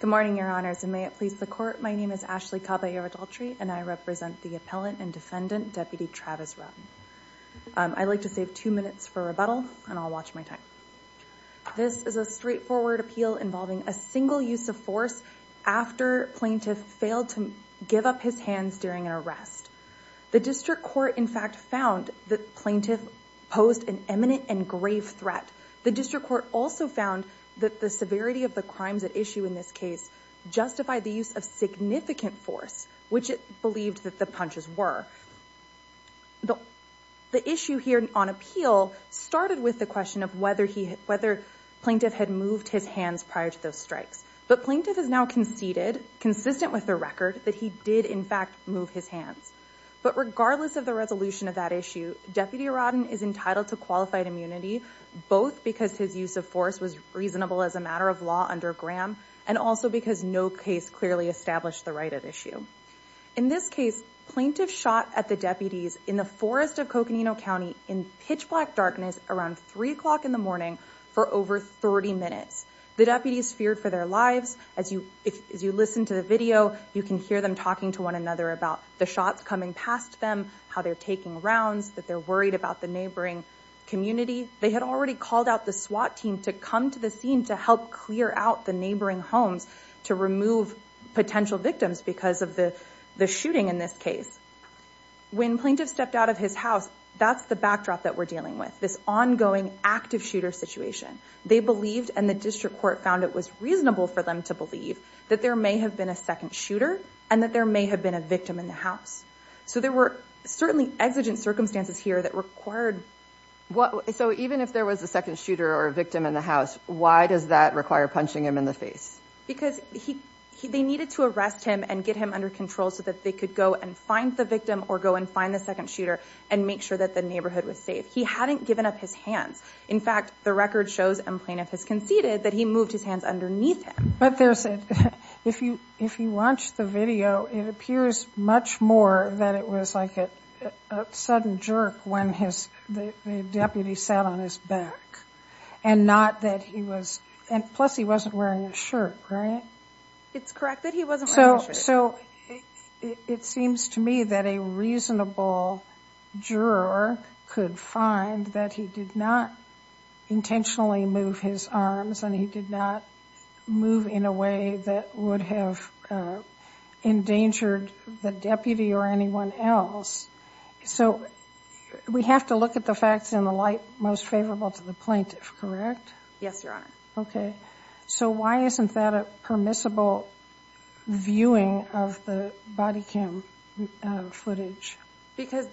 Good morning, Your Honors, and may it please the Court, my name is Ashley Caballero-Daltrey, and I represent the Appellant and Defendant, Deputy Travis Rowden. I'd like to save two minutes for rebuttal, and I'll watch my time. This is a straightforward appeal involving a single use of force after plaintiff failed to give up his hands during an arrest. The District Court, in fact, found that plaintiff posed an imminent and grave threat. The District Court also found that the severity of the crimes at issue in this case justified the use of significant force, which it believed that the punches were. The issue here on appeal started with the question of whether plaintiff had moved his hands prior to those strikes. But plaintiff has now conceded, consistent with the record, that he did, in fact, move his hands. But regardless of the resolution of that issue, Deputy Rowden is entitled to qualified immunity, both because his use of force was reasonable as a matter of law under Graham, and also because no case clearly established the right at issue. In this case, plaintiff shot at the deputies in the forest of Coconino County in pitch black darkness around 3 o'clock in the morning for over 30 minutes. The deputies feared for their lives. As you listen to the video, you can hear them talking to one another about the shots coming past them, how they're taking rounds, that they're worried about the neighboring community. They had already called out the SWAT team to come to the scene to help clear out the neighboring homes to remove potential victims because of the shooting in this case. When plaintiff stepped out of his house, that's the backdrop that we're dealing with, this ongoing active shooter situation. They believed, and the District Court found it was reasonable for them to believe, that there may have been a second shooter, and that there may have been a victim in the house. So there were certainly exigent circumstances here that required... So even if there was a second shooter or a victim in the house, why does that require punching him in the face? Because they needed to arrest him and get him under control so that they could go and find the victim, or go and find the second shooter, and make sure that the neighborhood was safe. He hadn't given up his hands. In fact, the record shows, and plaintiff has conceded, that he moved his hands underneath him. But there's a... If you watch the video, it appears much more that it was like a sudden jerk when the deputy sat on his back, and not that he was... And plus he wasn't wearing a shirt, right? It's correct that he wasn't wearing a shirt. So it seems to me that a reasonable juror could find that he did not intentionally move his arms, and he did not move in a way that would have endangered the deputy or anyone else. So we have to look at the facts in the light most favorable to the plaintiff, correct? Yes, Your Honor. Okay. So why isn't that a permissible viewing of the body cam footage? Because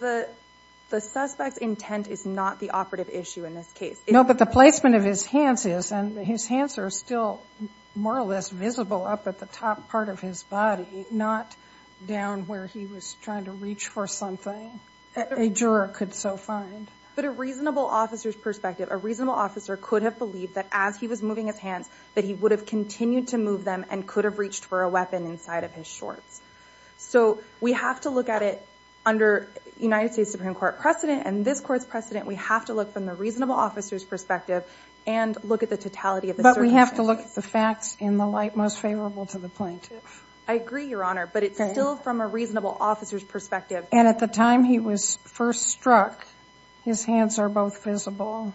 the suspect's intent is not the operative issue in this case. No, but the placement of his hands is, and his hands are still more or less visible up at the top part of his body, not down where he was trying to reach for something. A juror could so find. But a reasonable officer's perspective, a reasonable officer could have believed that as he was moving his hands, that he would have continued to move them and could have reached for a weapon inside of his shorts. So we have to look at it under United States Supreme Court precedent, and this court's precedent, we have to look from the reasonable officer's perspective and look at the totality of the circumstances. But we have to look at the facts in the light most favorable to the plaintiff. I agree, Your Honor, but it's still from a reasonable officer's perspective. And at the time he was first struck, his hands are both visible.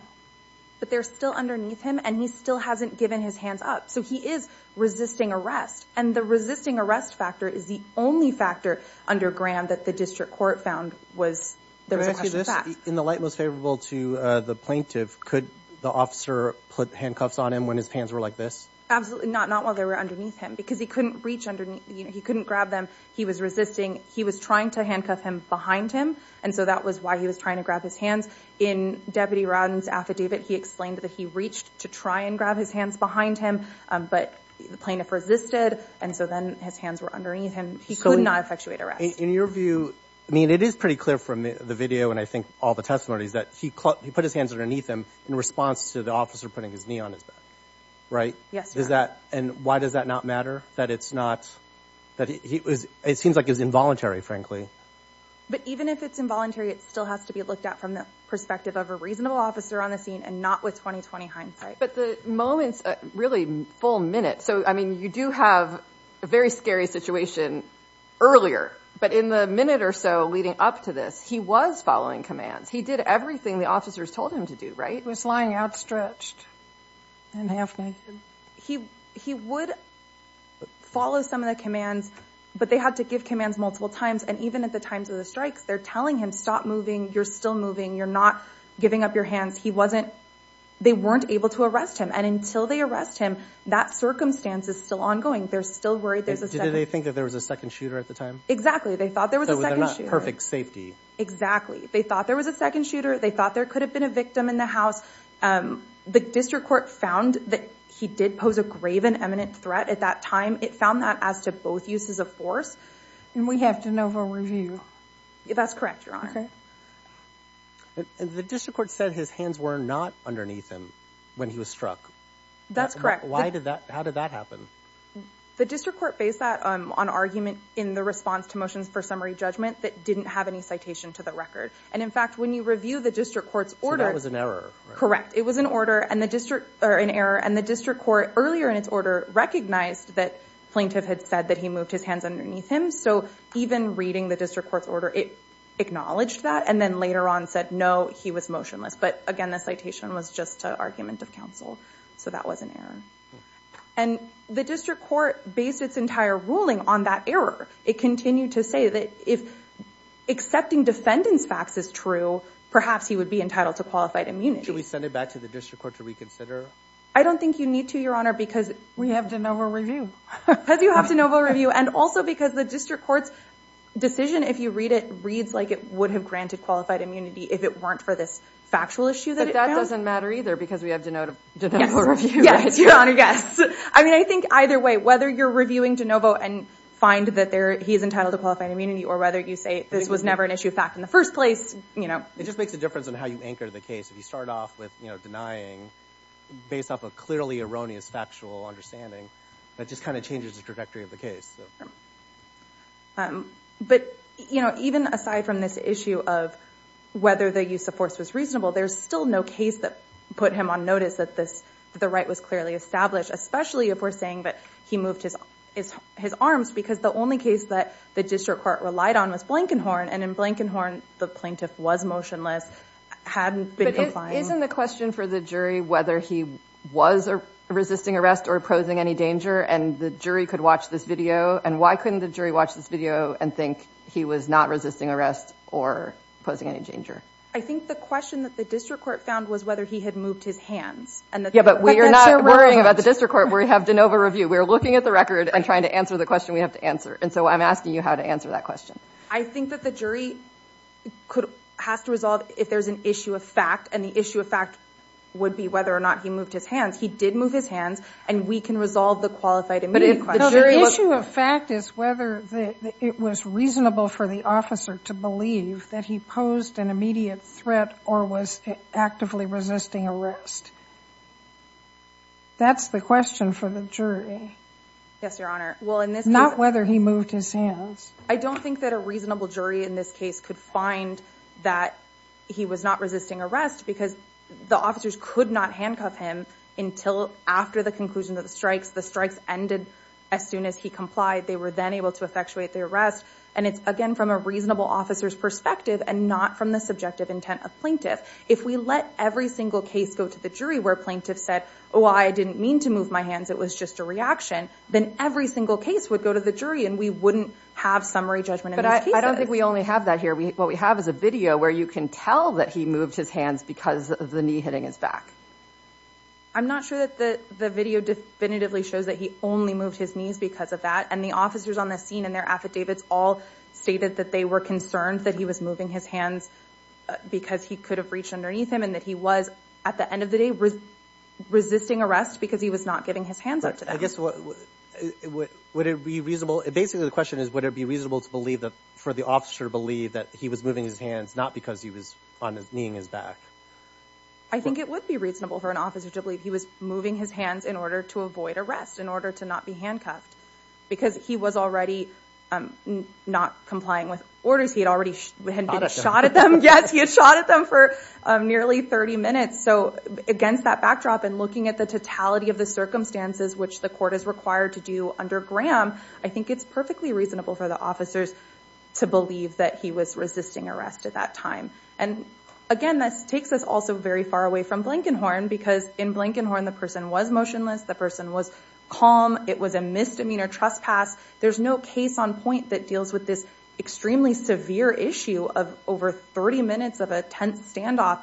But they're still underneath him, and he still hasn't given his hands up. So he is resisting arrest, and the resisting arrest factor is the only factor under Graham that the district court found was there was a question of facts. In the light most favorable to the plaintiff, could the officer put handcuffs on him when his hands were like this? Absolutely not, not while they were underneath him, because he couldn't reach underneath him. He couldn't grab them. He was resisting. He was trying to handcuff him behind him, and so that was why he was trying to grab his hands. In Deputy Rodden's affidavit, he explained that he reached to try and grab his hands behind him, but the plaintiff resisted, and so then his hands were underneath him. He could not effectuate arrest. In your view, I mean, it is pretty clear from the video and I think all the testimonies that he put his hands underneath him in response to the officer putting his knee on his back, right? Yes, Your Honor. And why does that not matter? That it's not, that he was, it seems like it was involuntary, frankly. But even if it's involuntary, it still has to be looked at from the perspective of a reasonable officer on the scene and not with 20-20 hindsight. But the moments, really full minute, so I mean, you do have a very scary situation earlier, but in the minute or so leading up to this, he was following commands. He did everything the officers told him to do, right? He was lying outstretched and half-naked. He would follow some of the commands, but they had to give commands multiple times, and even at the times of the strikes, they're telling him, stop moving. You're still moving. You're not giving up your hands. He wasn't, they weren't able to arrest him, and until they arrest him, that circumstance is still ongoing. They're still worried. Did they think that there was a second shooter at the time? Exactly. They thought there was a second shooter. So they're not perfect safety. Exactly. They thought there was a second shooter. They thought there could have been a victim in the house. The district court found that he did pose a grave and imminent threat at that time. It found that as to both uses of force. And we have to know for review. That's correct, Your Honor. Okay. And the district court said his hands were not underneath him when he was struck. That's correct. Why did that, how did that happen? The district court based that on argument in the response to motions for summary judgment that didn't have any citation to the record. And in fact, when you review the district court's order. So that was an error. Correct. It was an order and the district, or an error, and the district court earlier in its order recognized that plaintiff had said that he moved his hands underneath him. So even reading the district court's order, it acknowledged that. And then later on said, no, he was motionless. But again, the citation was just an argument of counsel. So that was an error. And the district court based its entire ruling on that error. It continued to say that if accepting defendant's facts is true, perhaps he would be entitled to qualified immunity. Should we send it back to the district court to reconsider? I don't think you need to, Your Honor, because. We have to know for review. Because you have to know for review. And also because the district court's decision, if you read it, reads like it would have granted qualified immunity if it weren't for this factual issue that it found. But that doesn't matter either because we have to know for review, right? Yes, Your Honor. Yes. I mean, I think either way, whether you're reviewing DeNovo and find that he's entitled to qualified immunity or whether you say this was never an issue of fact in the first place, you know. It just makes a difference on how you anchor the case. If you start off with, you know, denying based off of clearly erroneous factual understanding, that just kind of changes the trajectory of the case. But even aside from this issue of whether the use of force was reasonable, there's still no case that put him on notice that the right was clearly established, especially if we're saying that he moved his arms because the only case that the district court relied on was Blankenhorn. And in Blankenhorn, the plaintiff was motionless, hadn't been complying. But isn't the question for the jury whether he was resisting arrest or posing any danger and the jury could watch this video? And why couldn't the jury watch this video and think he was not resisting arrest or posing any danger? I think the question that the district court found was whether he had moved his hands. Yeah, but we are not worrying about the district court. We have DeNovo review. We're looking at the record and trying to answer the question we have to answer. And so I'm asking you how to answer that question. I think that the jury has to resolve if there's an issue of fact. And the issue of fact would be whether or not he moved his hands. He did move his hands. And we can resolve the qualified immediate question. But the issue of fact is whether it was reasonable for the officer to believe that he posed an immediate threat or was actively resisting arrest. That's the question for the jury. Yes, Your Honor. Well, in this case. Not whether he moved his hands. I don't think that a reasonable jury in this case could find that he was not resisting arrest because the officers could not handcuff him until after the conclusion of the strikes. The strikes ended as soon as he complied. They were then able to effectuate the arrest. And it's again from a reasonable officer's perspective and not from the subjective intent of plaintiff. If we let every single case go to the jury where plaintiff said, oh, I didn't mean to move my hands. It was just a reaction. Then every single case would go to the jury and we wouldn't have summary judgment in these But I don't think we only have that here. What we have is a video where you can tell that he moved his hands because of the knee hitting his back. I'm not sure that the video definitively shows that he only moved his knees because of that. And the officers on the scene and their affidavits all stated that they were concerned that he was moving his hands because he could have reached underneath him and that he was, at the end of the day, resisting arrest because he was not giving his hands up to them. I guess, would it be reasonable, basically the question is, would it be reasonable to believe that, for the officer to believe that he was moving his hands not because he was on his, kneeing his back? I think it would be reasonable for an officer to believe he was moving his hands in order to avoid arrest, in order to not be handcuffed. Because he was already not complying with orders. He had already been shot at them. Yes, he had shot at them for nearly 30 minutes. So against that backdrop and looking at the totality of the circumstances which the court is required to do under Graham, I think it's perfectly reasonable for the officers to believe that he was resisting arrest at that time. And again, this takes us also very far away from Blankenhorn because in Blankenhorn the person was motionless, the person was calm, it was a misdemeanor trespass. There's no case on point that deals with this extremely severe issue of over 30 minutes of a tense standoff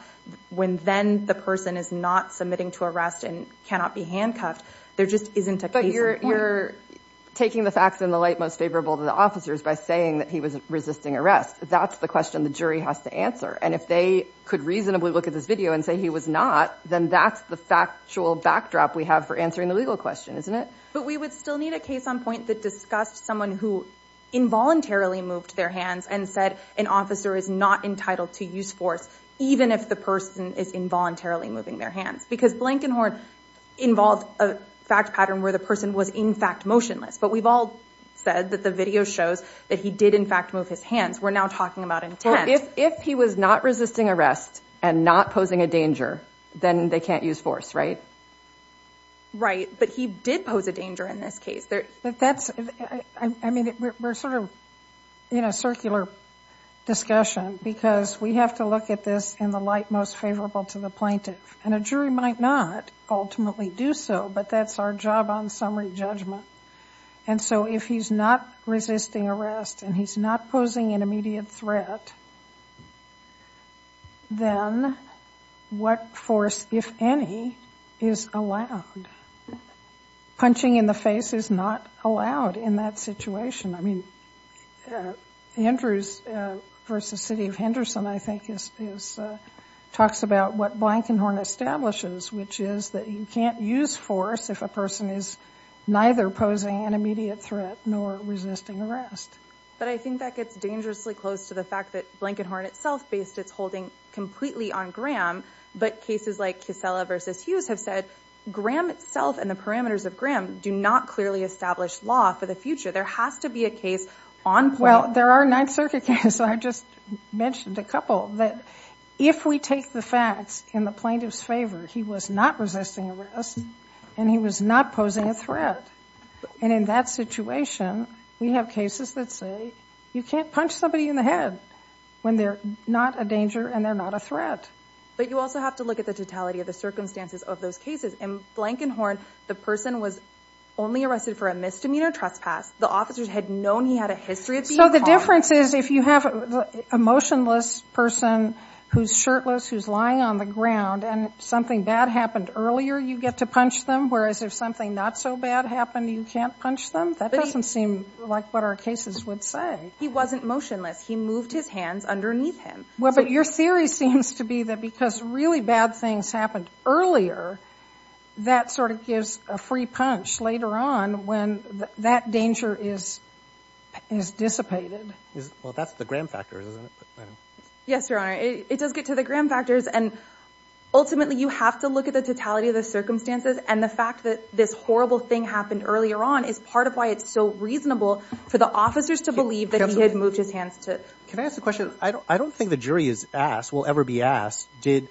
when then the person is not submitting to arrest and cannot be handcuffed. There just isn't a case on point. But you're taking the facts in the light most favorable to the officers by saying that he was resisting arrest. That's the question the jury has to answer. And if they could reasonably look at this video and say he was not, then that's the factual backdrop we have for answering the legal question, isn't it? But we would still need a case on point that discussed someone who involuntarily moved their hands and said an officer is not entitled to use force even if the person is involuntarily moving their hands. Because Blankenhorn involved a fact pattern where the person was in fact motionless. But we've all said that the video shows that he did in fact move his hands. We're now talking about intent. If he was not resisting arrest and not posing a danger, then they can't use force, right? Right. But he did pose a danger in this case. But that's, I mean, we're sort of in a circular discussion because we have to look at this in the light most favorable to the plaintiff. And a jury might not ultimately do so, but that's our job on summary judgment. And so if he's not resisting arrest and he's not posing an immediate threat, then what force, if any, is allowed? And punching in the face is not allowed in that situation. I mean, Andrews v. City of Henderson, I think, talks about what Blankenhorn establishes, which is that you can't use force if a person is neither posing an immediate threat nor resisting arrest. But I think that gets dangerously close to the fact that Blankenhorn itself based its holding completely on Graham. But cases like Casella v. Hughes have said Graham itself and the parameters of Graham do not clearly establish law for the future. There has to be a case on point. Well, there are Ninth Circuit cases, I just mentioned a couple, that if we take the facts in the plaintiff's favor, he was not resisting arrest and he was not posing a threat. And in that situation, we have cases that say you can't punch somebody in the head when they're not a danger and they're not a threat. But you also have to look at the totality of the circumstances of those cases. In Blankenhorn, the person was only arrested for a misdemeanor trespass. The officers had known he had a history of being a threat. So the difference is if you have a motionless person who's shirtless, who's lying on the ground and something bad happened earlier, you get to punch them. Whereas if something not so bad happened, you can't punch them. That doesn't seem like what our cases would say. He wasn't motionless. He moved his hands underneath him. Well, but your theory seems to be that because really bad things happened earlier, that sort of gives a free punch later on when that danger is dissipated. Well, that's the gram factors, isn't it? Yes, Your Honor. It does get to the gram factors. And ultimately, you have to look at the totality of the circumstances. And the fact that this horrible thing happened earlier on is part of why it's so reasonable for the officers to believe that he had moved his hands to... Can I ask a question? I don't think the jury is asked, will ever be asked, did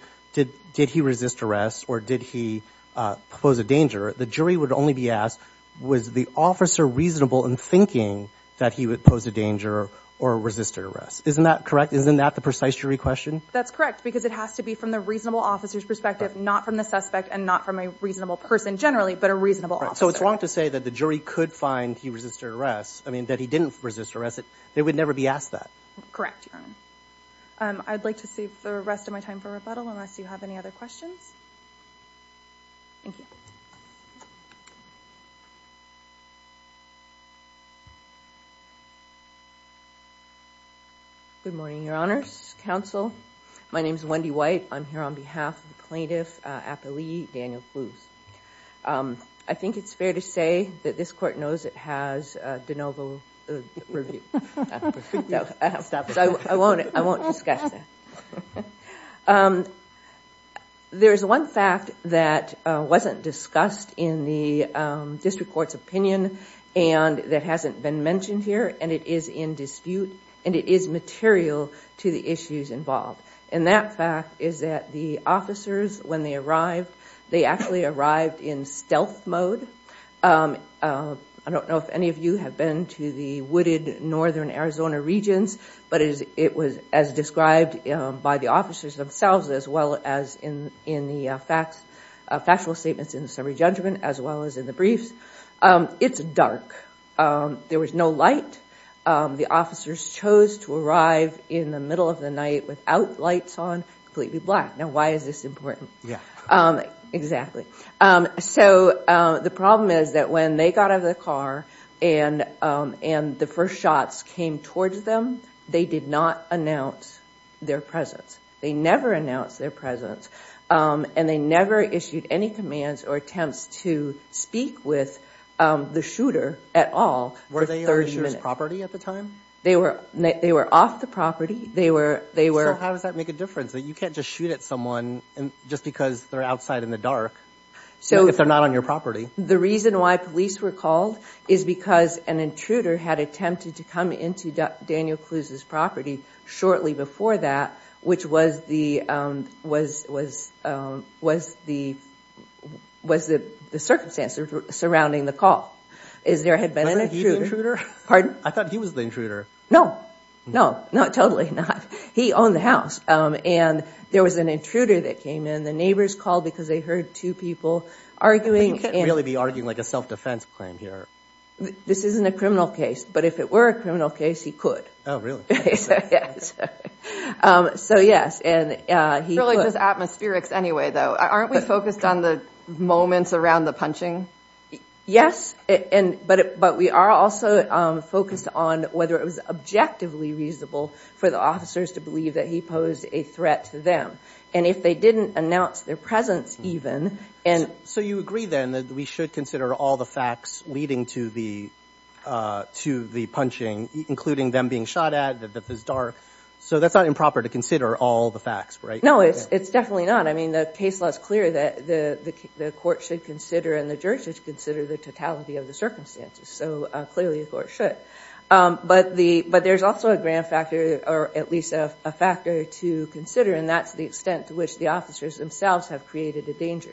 he resist arrest or did he pose a danger? The jury would only be asked, was the officer reasonable in thinking that he would pose a danger or resisted arrest? Isn't that correct? Isn't that the precise jury question? That's correct because it has to be from the reasonable officer's perspective, not from the suspect and not from a reasonable person generally, but a reasonable officer. So it's wrong to say that the jury could find he resisted arrest, I mean, that he didn't resist arrest. They would never be asked that. Correct, Your Honor. I'd like to save the rest of my time for rebuttal unless you have any other questions. Thank you. Good morning, Your Honors. Counsel. My name is Wendy White. I'm here on behalf of the plaintiff, Apollie Daniel-Cluse. I think it's fair to say that this court knows it has de novo review. So I won't discuss that. There's one fact that wasn't discussed in the district court's opinion and that hasn't been mentioned here and it is in dispute and it is material to the issues involved. And that fact is that the officers, when they arrived, they actually arrived in stealth mode. I don't know if any of you have been to the wooded northern Arizona regions, but it was as described by the officers themselves as well as in the factual statements in the summary judgment as well as in the briefs. It's dark. There was no light. The officers chose to arrive in the middle of the night without lights on, completely black. Now, why is this important? Yeah. Exactly. So the problem is that when they got out of the car and the first shots came towards them, they did not announce their presence. They never announced their presence and they never issued any commands or attempts to speak with the shooter at all for 30 minutes. Were they on the shooter's property at the time? They were off the property. They were... So how does that make a difference? That you can't just shoot at someone just because they're outside in the dark if they're not on your property. The reason why police were called is because an intruder had attempted to come into Daniel Cluse's property shortly before that, which was the circumstance surrounding the call. Is there had been an intruder? I thought he was the intruder. No. No. Not totally, not. He owned the house and there was an intruder that came in. The neighbors called because they heard two people arguing. You can't really be arguing like a self-defense claim here. This isn't a criminal case, but if it were a criminal case, he could. Oh, really? So yes. It's really just atmospherics anyway, though. Aren't we focused on the moments around the punching? Yes. But we are also focused on whether it was objectively reasonable for the officers to believe that he posed a threat to them. And if they didn't announce their presence even... So you agree then that we should consider all the facts leading to the punching, including them being shot at, that it was dark. So that's not improper to consider all the facts, right? No, it's definitely not. I mean, the case law is clear that the court should consider and the jury should consider the totality of the circumstances. So clearly the court should. But there's also a grand factor, or at least a factor to consider, and that's the extent to which the officers themselves have created a danger.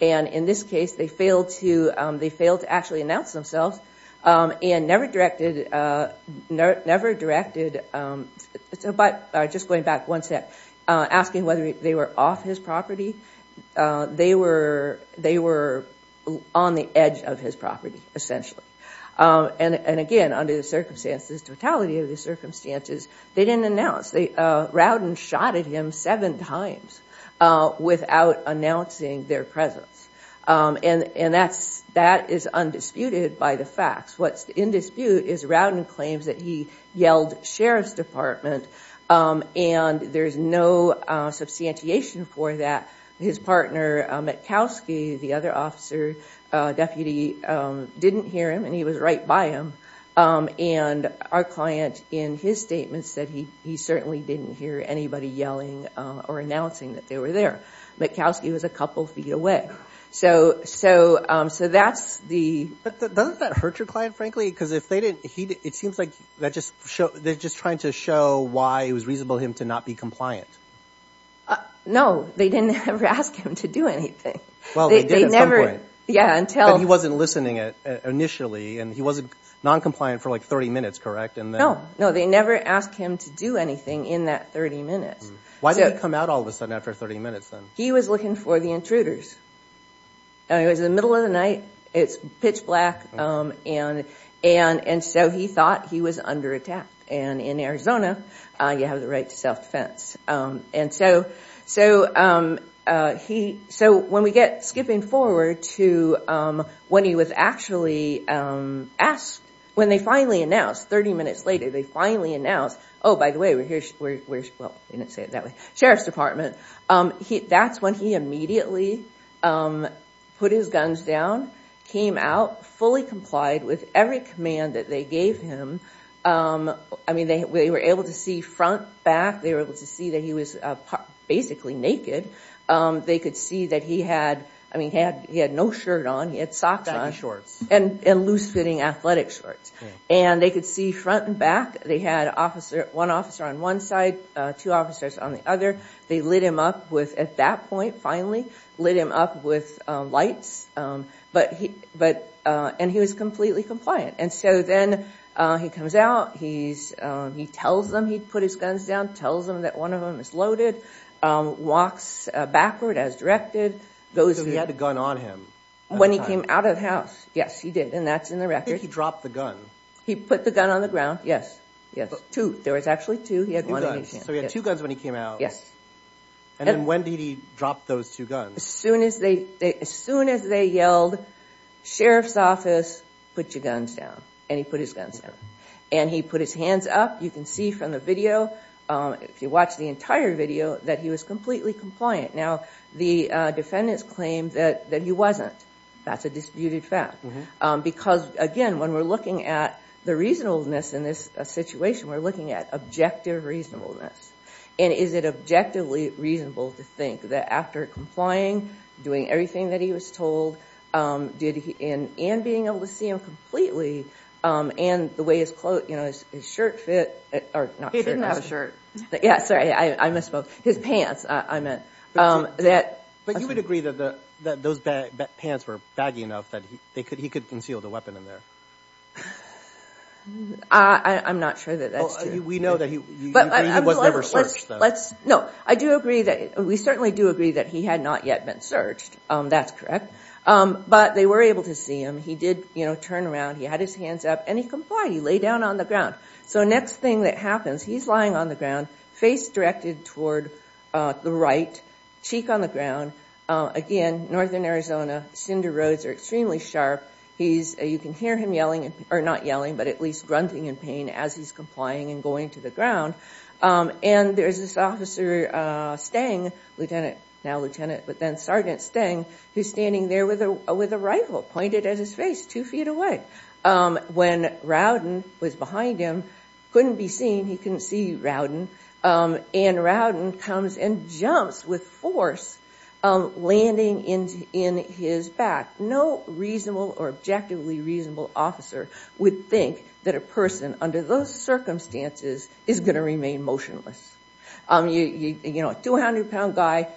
And in this case, they failed to actually announce themselves and never directed... Never directed... But just going back one step, asking whether they were off his property. They were on the edge of his property, essentially. And again, under the circumstances, totality of the circumstances, they didn't announce. Rowden shot at him seven times without announcing their presence. And that is undisputed by the facts. What's in dispute is Rowden claims that he yelled, Sheriff's Department. And there's no substantiation for that. His partner, Matkowski, the other officer, deputy, didn't hear him and he was right by him. And our client, in his statements, said he certainly didn't hear anybody yelling or announcing that they were there. Matkowski was a couple feet away. So that's the... But doesn't that hurt your client, frankly? Because if they didn't... It seems like they're just trying to show why it was reasonable for him to not be compliant. No, they didn't ever ask him to do anything. Well, they did at some point. Yeah, until... But he wasn't listening initially, and he wasn't non-compliant for like 30 minutes, correct? No, no, they never asked him to do anything in that 30 minutes. Why did he come out all of a sudden after 30 minutes then? He was looking for the intruders. And it was the middle of the night. It's pitch black. And so he thought he was under attack. And in Arizona, you have the right to self-defense. And so he... So when we get skipping forward to when he was actually asked, when they finally announced, 30 minutes later, they finally announced, oh, by the way, we're here... Well, they didn't say it that way. Sheriff's Department. That's when he immediately put his guns down, came out, fully complied with every command that they gave him. I mean, they were able to see front, back. They were able to see that he was basically naked. They could see that he had... I mean, he had no shirt on. He had socks on. And loose-fitting athletic shorts. And they could see front and back. They had one officer on one side, two officers on the other. They lit him up with... At that point, finally, lit him up with lights. But he... And he was completely compliant. And so then he comes out. He tells them he put his guns down. Tells them that one of them is loaded. Walks backward as directed. Goes... So he had a gun on him. When he came out of the house. Yes, he did. And that's in the record. I think he dropped the gun. He put the gun on the ground. Yes. Yes. Two. There was actually two. He had one in his hand. So he had two guns when he came out. Yes. And then when did he drop those two guns? As soon as they yelled, Sheriff's Office, put your guns down. And he put his guns down. And he put his hands up. You can see from the video, if you watch the entire video, that he was completely compliant. Now, the defendants claimed that he wasn't. That's a disputed fact. Because, again, when we're looking at the reasonableness in this situation, we're looking at objective reasonableness. And is it objectively reasonable to think that after complying, doing everything that he was told, and being able to see him completely, and the way his shirt fit... He didn't have a shirt. Yes, sorry. I misspoke. His pants, I meant. But you would agree that those pants were baggy enough that he could conceal the weapon in there? I'm not sure that that's true. We know that he was never searched, though. No, I do agree that we certainly do agree that he had not yet been searched. That's correct. But they were able to see him. He did turn around. He had his hands up. And he complied. He lay down on the ground. So next thing that happens, he's lying on the ground, face directed toward the right, cheek on the ground. Again, northern Arizona, cinder roads are extremely sharp. You can hear him yelling, or not yelling, but at least grunting in pain as he's complying and going to the ground. And there's this officer, Stang, now Lieutenant, but then Sergeant Stang, who's standing there with a rifle pointed at his face, two feet away. When Rowden was behind him, couldn't be seen. He couldn't see Rowden. And Rowden comes and jumps with force, landing in his back. No reasonable or objectively reasonable officer would think that a person under those circumstances is going to remain motionless. You know, a 200-pound guy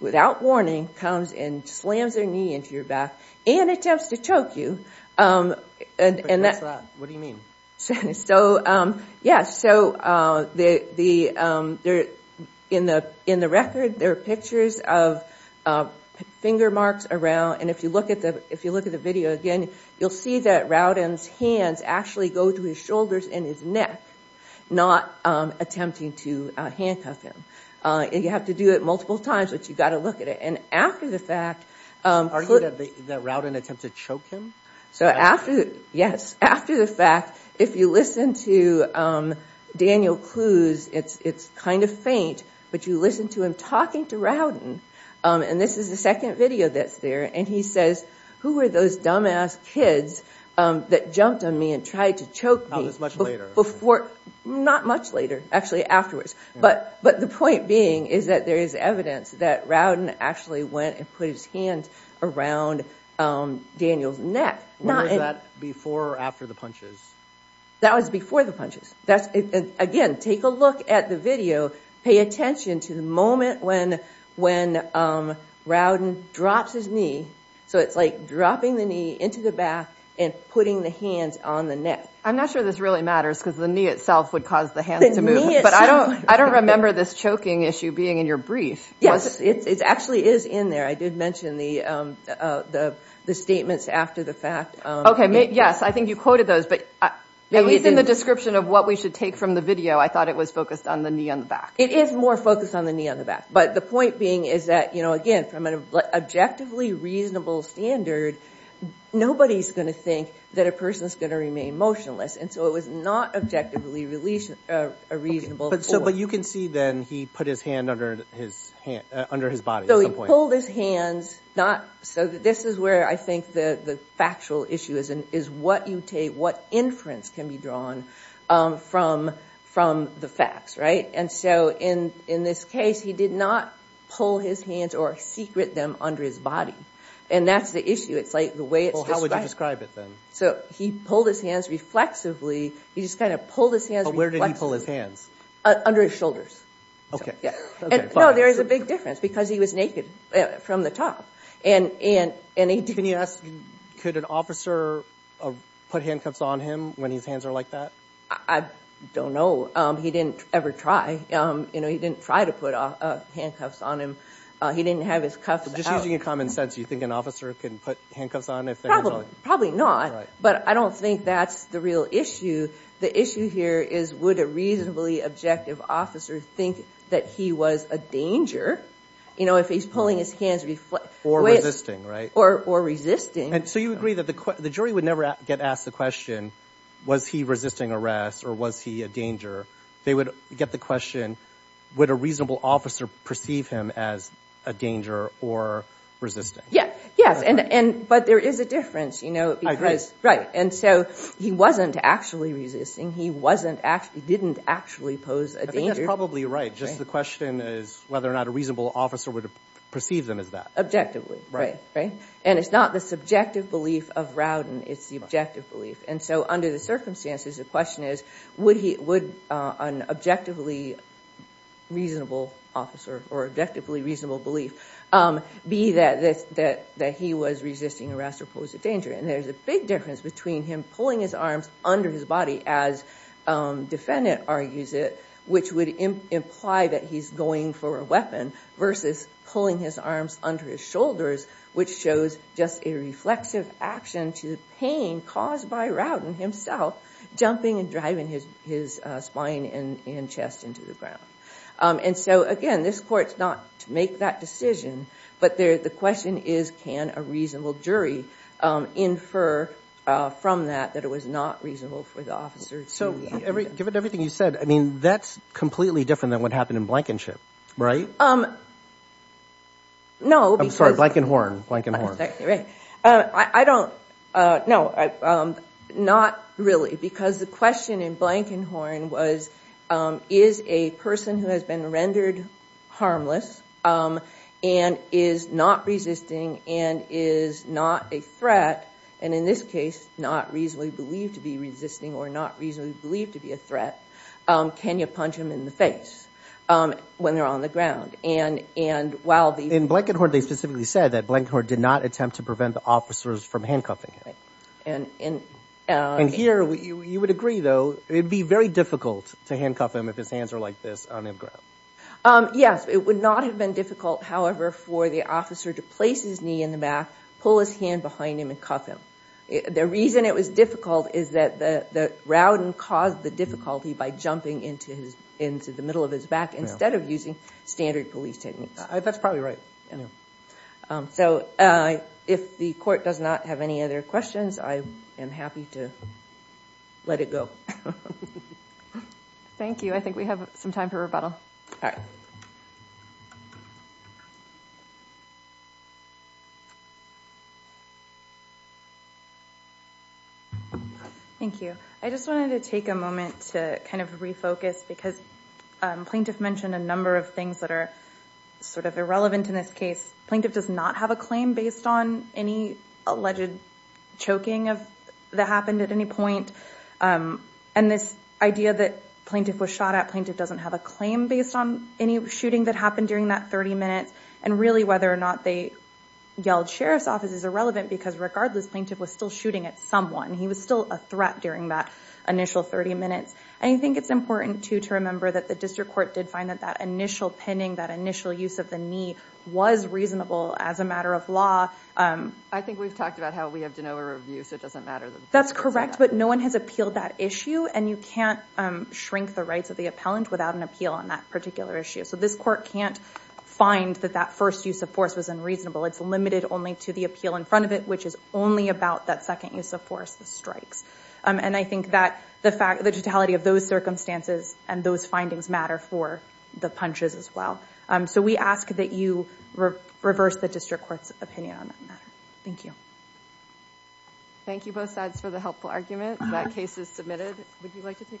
without warning comes and slams their knee into your back and attempts to choke you. What do you mean? So, yeah, so, in the record, there are pictures of finger marks around. And if you look at the, if you look at the video again, you'll see that Rowden's hands actually go to his shoulders and his neck, not attempting to handcuff him. And you have to do it multiple times, but you've got to look at it. And after the fact, Are you that Rowden attempted to choke him? So after, yes, after the fact, if you listen to Daniel Kluze, it's, it's kind of faint, but you listen to him talking to Rowden. And this is the second video that's there. And he says, who were those dumbass kids that jumped on me and tried to choke me before, not much later, actually afterwards. But, but the point being is that there is evidence that Rowden actually went and put his hand around Daniel's neck. Was that before or after the punches? That was before the punches. That's, again, take a look at the video. Pay attention to the moment when, when Rowden drops his knee. So it's like dropping the knee into the back and putting the hands on the neck. I'm not sure this really matters because the knee itself would cause the hands to move. But I don't, I don't remember this choking issue being in your brief. Yes, it actually is in there. I did mention the, the, the statements after the fact. Okay, yes, I think you quoted those, at least in the description of what we should take from the video, I thought it was focused on the knee on the back. It is more focused on the knee on the back. But the point being is that, you know, again, from an objectively reasonable standard, nobody's going to think that a person's going to remain motionless. And so it was not objectively release, a reasonable. But so, but you can see then he put his hand under his hand, under his body at some point. So he pulled his hands, not, so this is where I think the, the factual issue is, is what you take, what inference can be drawn from, from the facts, right? And so in, in this case, he did not pull his hands or secret them under his body. And that's the issue. It's like the way it's described. how would you describe it then? So he pulled his hands reflexively. He just kind of pulled his hands reflexively. But where did he pull his hands? Under his shoulders. Okay. No, there is a big difference because he was naked from the top. And, and, and he, Can you ask, could an officer put handcuffs on him when his hands are like that? I don't know. He didn't ever try. You know, he didn't try to put handcuffs on him. He didn't have his cuffs out. So just using your common sense, do you think an officer can put handcuffs on if their hands are like that? probably not. Right. But I don't think that's the real issue. The issue here is would a reasonably objective officer think that he was a danger, you know, if he's pulling his hands reflexively? Or resisting, right? Or resisting. And so you agree that the jury would never get asked the question, was he resisting arrest or was he a danger? They would get the question, would a reasonable officer perceive him as a danger or resisting? Yeah. Yes. And, and, but there is a difference, you know, because, right. And so he wasn't actually resisting. He wasn't actually, didn't actually pose a danger. probably right. Just the question is whether or not a reasonable officer would perceive them as that. Objectively. Right. Right. And it's not the subjective belief of Rowden. It's the objective belief. And so under the circumstances, the question is, would he, would an objectively reasonable officer or objectively reasonable belief be that, that he was resisting arrest or pose a danger? And there's a big difference between him pulling his arms under his body as defendant argues it, which would imply that he's going for a weapon versus pulling his arms under his shoulders, which shows just a reflexive action to pain caused by Rowden himself, jumping and driving his, his spine and, and chest into the ground. And so, again, this court's not to make that decision. But there, the question is, can a reasonable jury infer from that that it was not reasonable for the officer? So every, given everything you said, I mean, that's completely different than what happened in Blankenship, right? No. I'm sorry, Blankenhorn, Blankenhorn. Right. I don't, no, not really because the question in Blankenhorn was, is a person who has been rendered harmless and is not resisting and is not a threat and in this case not reasonably believed to be resisting or not reasonably believed to be a threat, can you punch him in the face when they're on the ground? and while the, In Blankenhorn, they specifically said that Blankenhorn did not attempt to prevent the officers from handcuffing him. Right. And, and, and here, you would agree though, it'd be very difficult to handcuff him if his hands are like this on the ground. Yes, it would not have been difficult, however, for the officer to place his knee in the back, pull his hand behind him and cuff him. The reason it was difficult is that the, that Rowden caused the difficulty by jumping into his, into the middle of his back instead of using standard police techniques. That's probably right. So, if the court does not have any other questions, I am happy to let it go. Thank you. I think we have some time for rebuttal. All right. Thank you. I just wanted to take a moment to kind of refocus because plaintiff mentioned a number of things that are sort of irrelevant in this case. Plaintiff does not have a claim based on any alleged choking of, that happened at any point and this idea that plaintiff was shot at, plaintiff doesn't have a claim based on any shooting that happened during that 30 minutes and really whether or not they yelled Sheriff's Office is irrelevant because regardless plaintiff was still shooting at someone. He was still a threat during that 30 minutes always reasonable as a matter of law. I think we've talked about how we have DeNova review so it doesn't matter. That's correct but no one has appealed that issue and you can't the rights of the appellant without an on that particular issue. So this court can't find that that first use of force was unreasonable. It's limited only to the appeal in front of it which is only about that second use of force the strikes. And I think that the totality of those circumstances and those findings matter for the punches as well. So we ask that you reverse the district court's opinion on that matter. Thank you. Thank you both sides for the helpful argument. That case is submitted. Would you like to take a